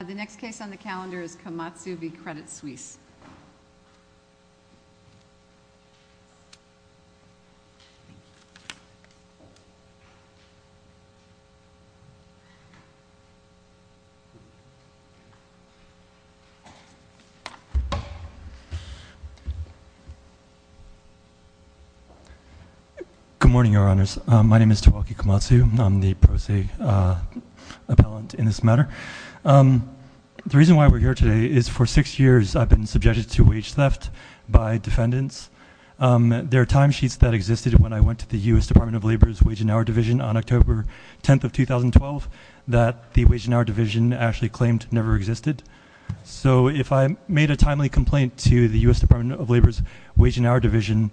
The next case on the calendar is Kamatsu v. Credit Suisse. Good morning, Your Honors. My name is Tawaki Kamatsu. I'm the pro se appellant in this matter. The reason why we're here today is for six years I've been subjected to wage theft by defendants. There are timesheets that existed when I went to the U.S. Department of Labor's Wage and Hour Division on October 10th of 2012 that the Wage and Hour Division actually claimed never existed. So if I made a timely complaint to the U.S. Department of Labor's Wage and Hour Division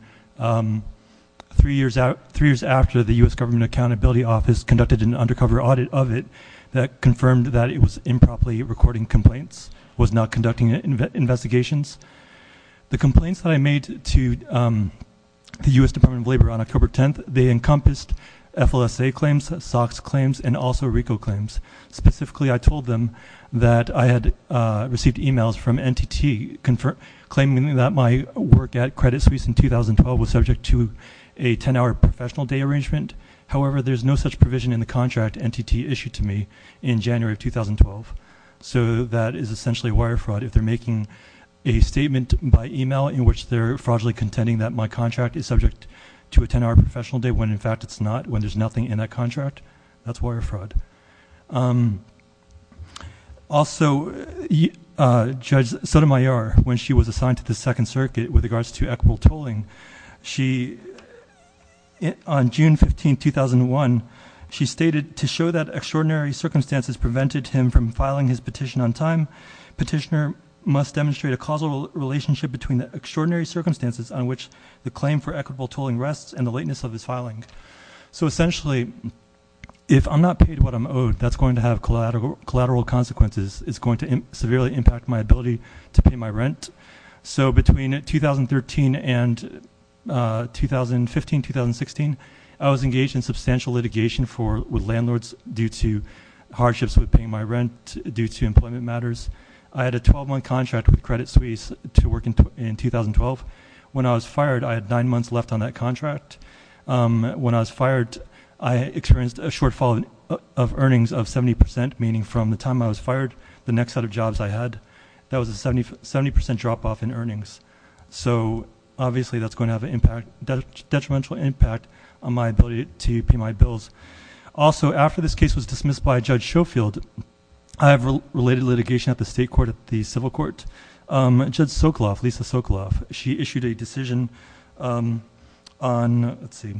three years after the U.S. Government Accountability Office conducted an undercover audit of it that confirmed that it was improperly recording complaints, was not conducting investigations, the complaints that I made to the U.S. Department of Labor on October 10th, they encompassed FLSA claims, SOX claims, and also RICO claims. Specifically, I told them that I had received emails from NTT claiming that my work at Credit Suisse in 2012 was subject to a 10-hour professional day arrangement. However, there's no such provision in the contract NTT issued to me in January of 2012. So that is essentially wire fraud. If they're making a statement by email in which they're fraudulently contending that my contract is subject to a 10-hour professional day when in fact it's not, when there's nothing in that contract, that's wire fraud. Also, Judge Sotomayor, when she was assigned to the Second Circuit with regards to equitable tolling, she, on June 15th, 2001, she stated, to show that extraordinary circumstances prevented him from filing his petition on time, petitioner must demonstrate a causal relationship between the extraordinary circumstances on which the claim for equitable tolling rests and the lateness of his filing. So essentially, if I'm not paid what I'm owed, that's going to have collateral consequences. It's going to severely impact my ability to pay my rent. So between 2013 and 2015, 2016, I was engaged in substantial litigation with landlords due to hardships with paying my rent, due to employment matters. I had a 12-month contract with Credit Suisse to work in 2012. When I was fired, I had nine months left on that contract. When I was fired, I experienced a shortfall of earnings of 70%, meaning from the time I was fired, the next set of jobs I had. That was a 70% drop-off in earnings. So obviously, that's going to have a detrimental impact on my ability to pay my bills. Also, after this case was dismissed by Judge Schofield, I have related litigation at the state court, at the civil court. Judge Sokoloff, Lisa Sokoloff, she issued a decision on, let's see,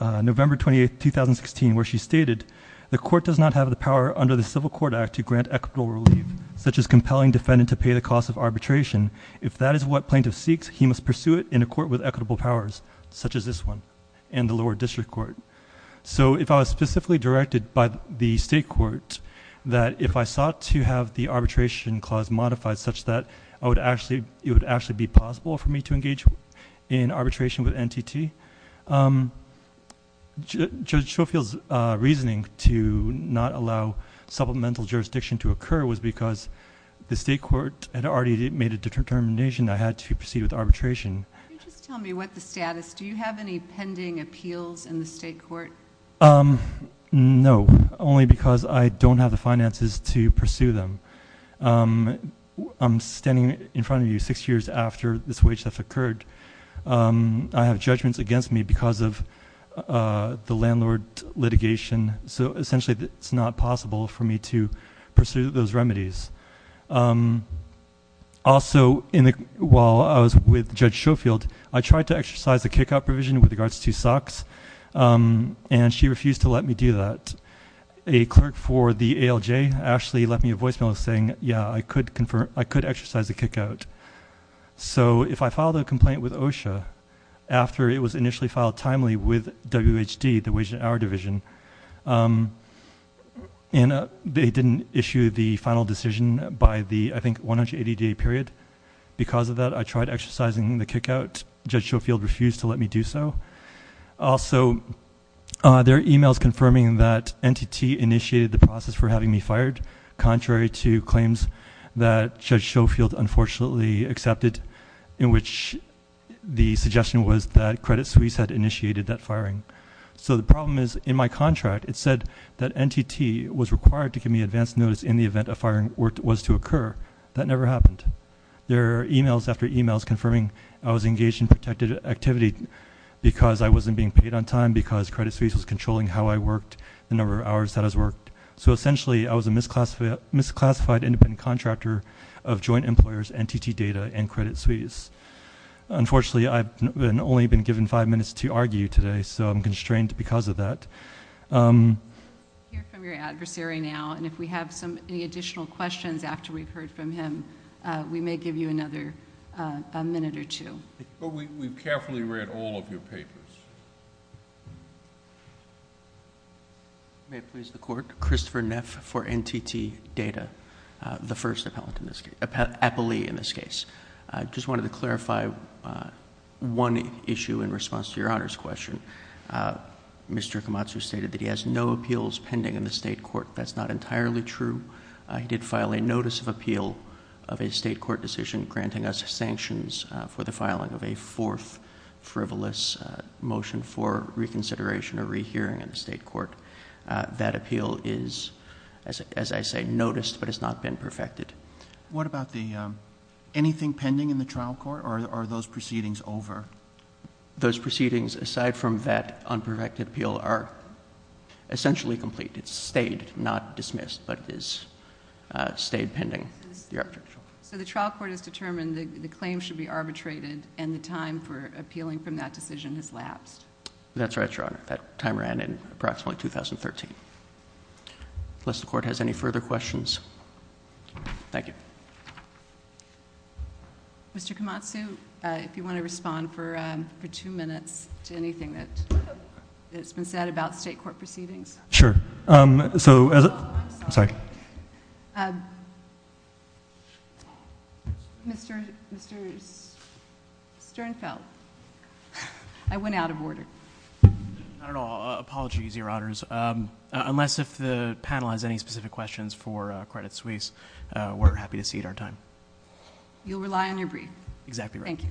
November 28th, 2016, where she stated, the court does not have the power under the Civil Court Act to grant equitable relief, such as compelling defendant to pay the cost of arbitration. If that is what plaintiff seeks, he must pursue it in a court with equitable powers, such as this one and the lower district court. So if I was specifically directed by the state court that if I sought to have the arbitration clause modified such that it would actually be possible for me to engage in arbitration with NTT, Judge Schofield's reasoning to not allow supplemental jurisdiction to occur was because the state court had already made a determination I had to proceed with arbitration. Can you just tell me what the status is? Do you have any pending appeals in the state court? No, only because I don't have the finances to pursue them. I'm standing in front of you six years after this wage theft occurred. I have judgments against me because of the landlord litigation, so essentially it's not possible for me to pursue those remedies. Also, while I was with Judge Schofield, I tried to exercise a kick-out provision with regards to SOX, and she refused to let me do that. A clerk for the ALJ actually left me a voicemail saying, yeah, I could exercise a kick-out. So if I filed a complaint with OSHA after it was initially filed timely with WHD, the Wage and Hour Division, and they didn't issue the final decision by the, I think, 180-day period, because of that I tried exercising the kick-out. Judge Schofield refused to let me do so. Also, there are e-mails confirming that NTT initiated the process for having me fired, contrary to claims that Judge Schofield unfortunately accepted, in which the suggestion was that Credit Suisse had initiated that firing. So the problem is, in my contract it said that NTT was required to give me advance notice in the event a firing was to occur. That never happened. There are e-mails after e-mails confirming I was engaged in protected activity because I wasn't being paid on time, because Credit Suisse was controlling how I worked, the number of hours that I worked. So essentially I was a misclassified independent contractor of joint employers, NTT data, and Credit Suisse. Unfortunately, I've only been given five minutes to argue today, so I'm constrained because of that. We'll hear from your adversary now, and if we have any additional questions after we've heard from him, we may give you another minute or two. We've carefully read all of your papers. May it please the Court. Christopher Neff for NTT Data, the first appellee in this case. I just wanted to clarify one issue in response to your Honor's question. Mr. Komatsu stated that he has no appeals pending in the state court. That's not entirely true. He did file a notice of appeal of a state court decision granting us sanctions for the filing of a fourth frivolous motion for reconsideration or rehearing in the state court. That appeal is, as I say, noticed but has not been perfected. What about the anything pending in the trial court, or are those proceedings over? Those proceedings, aside from that unperfected appeal, are essentially complete. It's stayed, not dismissed, but it has stayed pending. So the trial court has determined the claim should be arbitrated, and the time for appealing from that decision has lapsed. That's right, Your Honor. That time ran in approximately 2013. Unless the Court has any further questions. Thank you. Mr. Komatsu, if you want to respond for two minutes to anything that's been said about state court proceedings. Sure. I'm sorry. Mr. Sternfeld, I went out of order. Not at all. Apologies, Your Honors. Unless the panel has any specific questions for Credit Suisse, we're happy to cede our time. You'll rely on your brief. Exactly right. Thank you.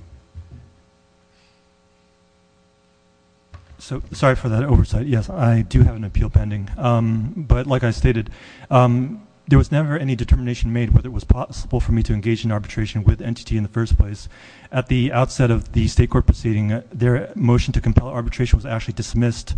Sorry for that oversight. Yes, I do have an appeal pending. But like I stated, there was never any determination made whether it was possible for me to engage in arbitration with NTT in the first place. At the outset of the state court proceeding, their motion to compel arbitration was actually dismissed,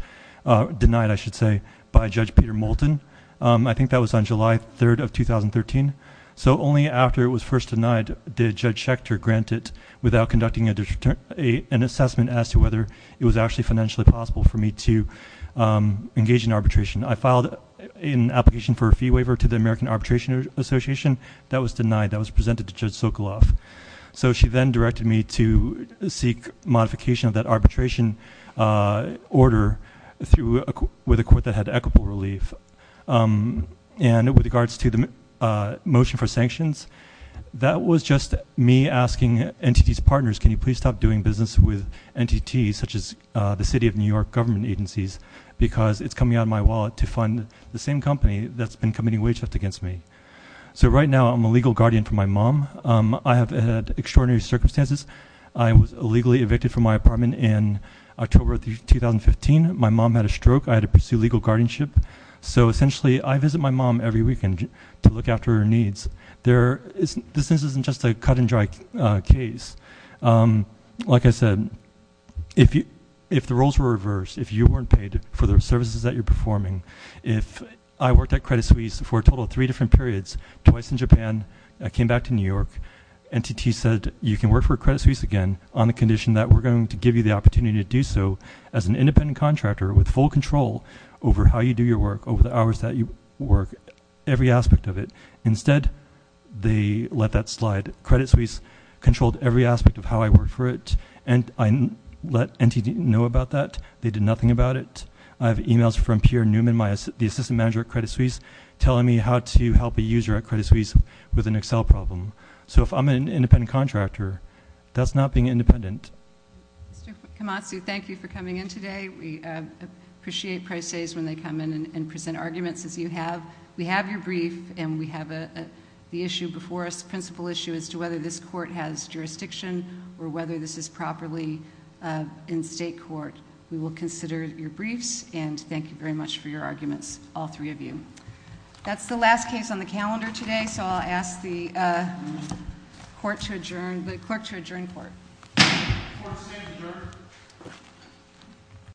denied I should say, by Judge Peter Moulton. I think that was on July 3rd of 2013. So only after it was first denied did Judge Schechter grant it without conducting an assessment as to whether it was actually financially possible for me to engage in arbitration. I filed an application for a fee waiver to the American Arbitration Association. That was denied. That was presented to Judge Sokoloff. So she then directed me to seek modification of that arbitration order with a court that had equitable relief. And with regards to the motion for sanctions, that was just me asking NTT's partners, can you please stop doing business with NTT, such as the city of New York government agencies, because it's coming out of my wallet to fund the same company that's been committing wage theft against me. So right now, I'm a legal guardian for my mom. I have had extraordinary circumstances. I was illegally evicted from my apartment in October of 2015. My mom had a stroke. I had to pursue legal guardianship. So essentially, I visit my mom every weekend to look after her needs. This isn't just a cut and dry case. Like I said, if the roles were reversed, if you weren't paid for the services that you're performing, if I worked at Credit Suisse for a total of three different periods, twice in Japan, I came back to New York, NTT said you can work for Credit Suisse again on the condition that we're going to give you the opportunity to do so as an independent contractor with full control over how you do your work, over the hours that you work, every aspect of it. Instead, they let that slide. Credit Suisse controlled every aspect of how I worked for it, and I let NTT know about that. They did nothing about it. I have e-mails from Pierre Newman, the assistant manager at Credit Suisse, telling me how to help a user at Credit Suisse with an Excel problem. So if I'm an independent contractor, that's not being independent. Mr. Kamatsu, thank you for coming in today. We appreciate press days when they come in and present arguments, as you have. We have your brief, and we have the issue before us, principal issue, as to whether this court has jurisdiction or whether this is properly in state court. We will consider your briefs, and thank you very much for your arguments, all three of you. That's the last case on the calendar today, so I'll ask the court to adjourn. Thank you, court. Court is adjourned.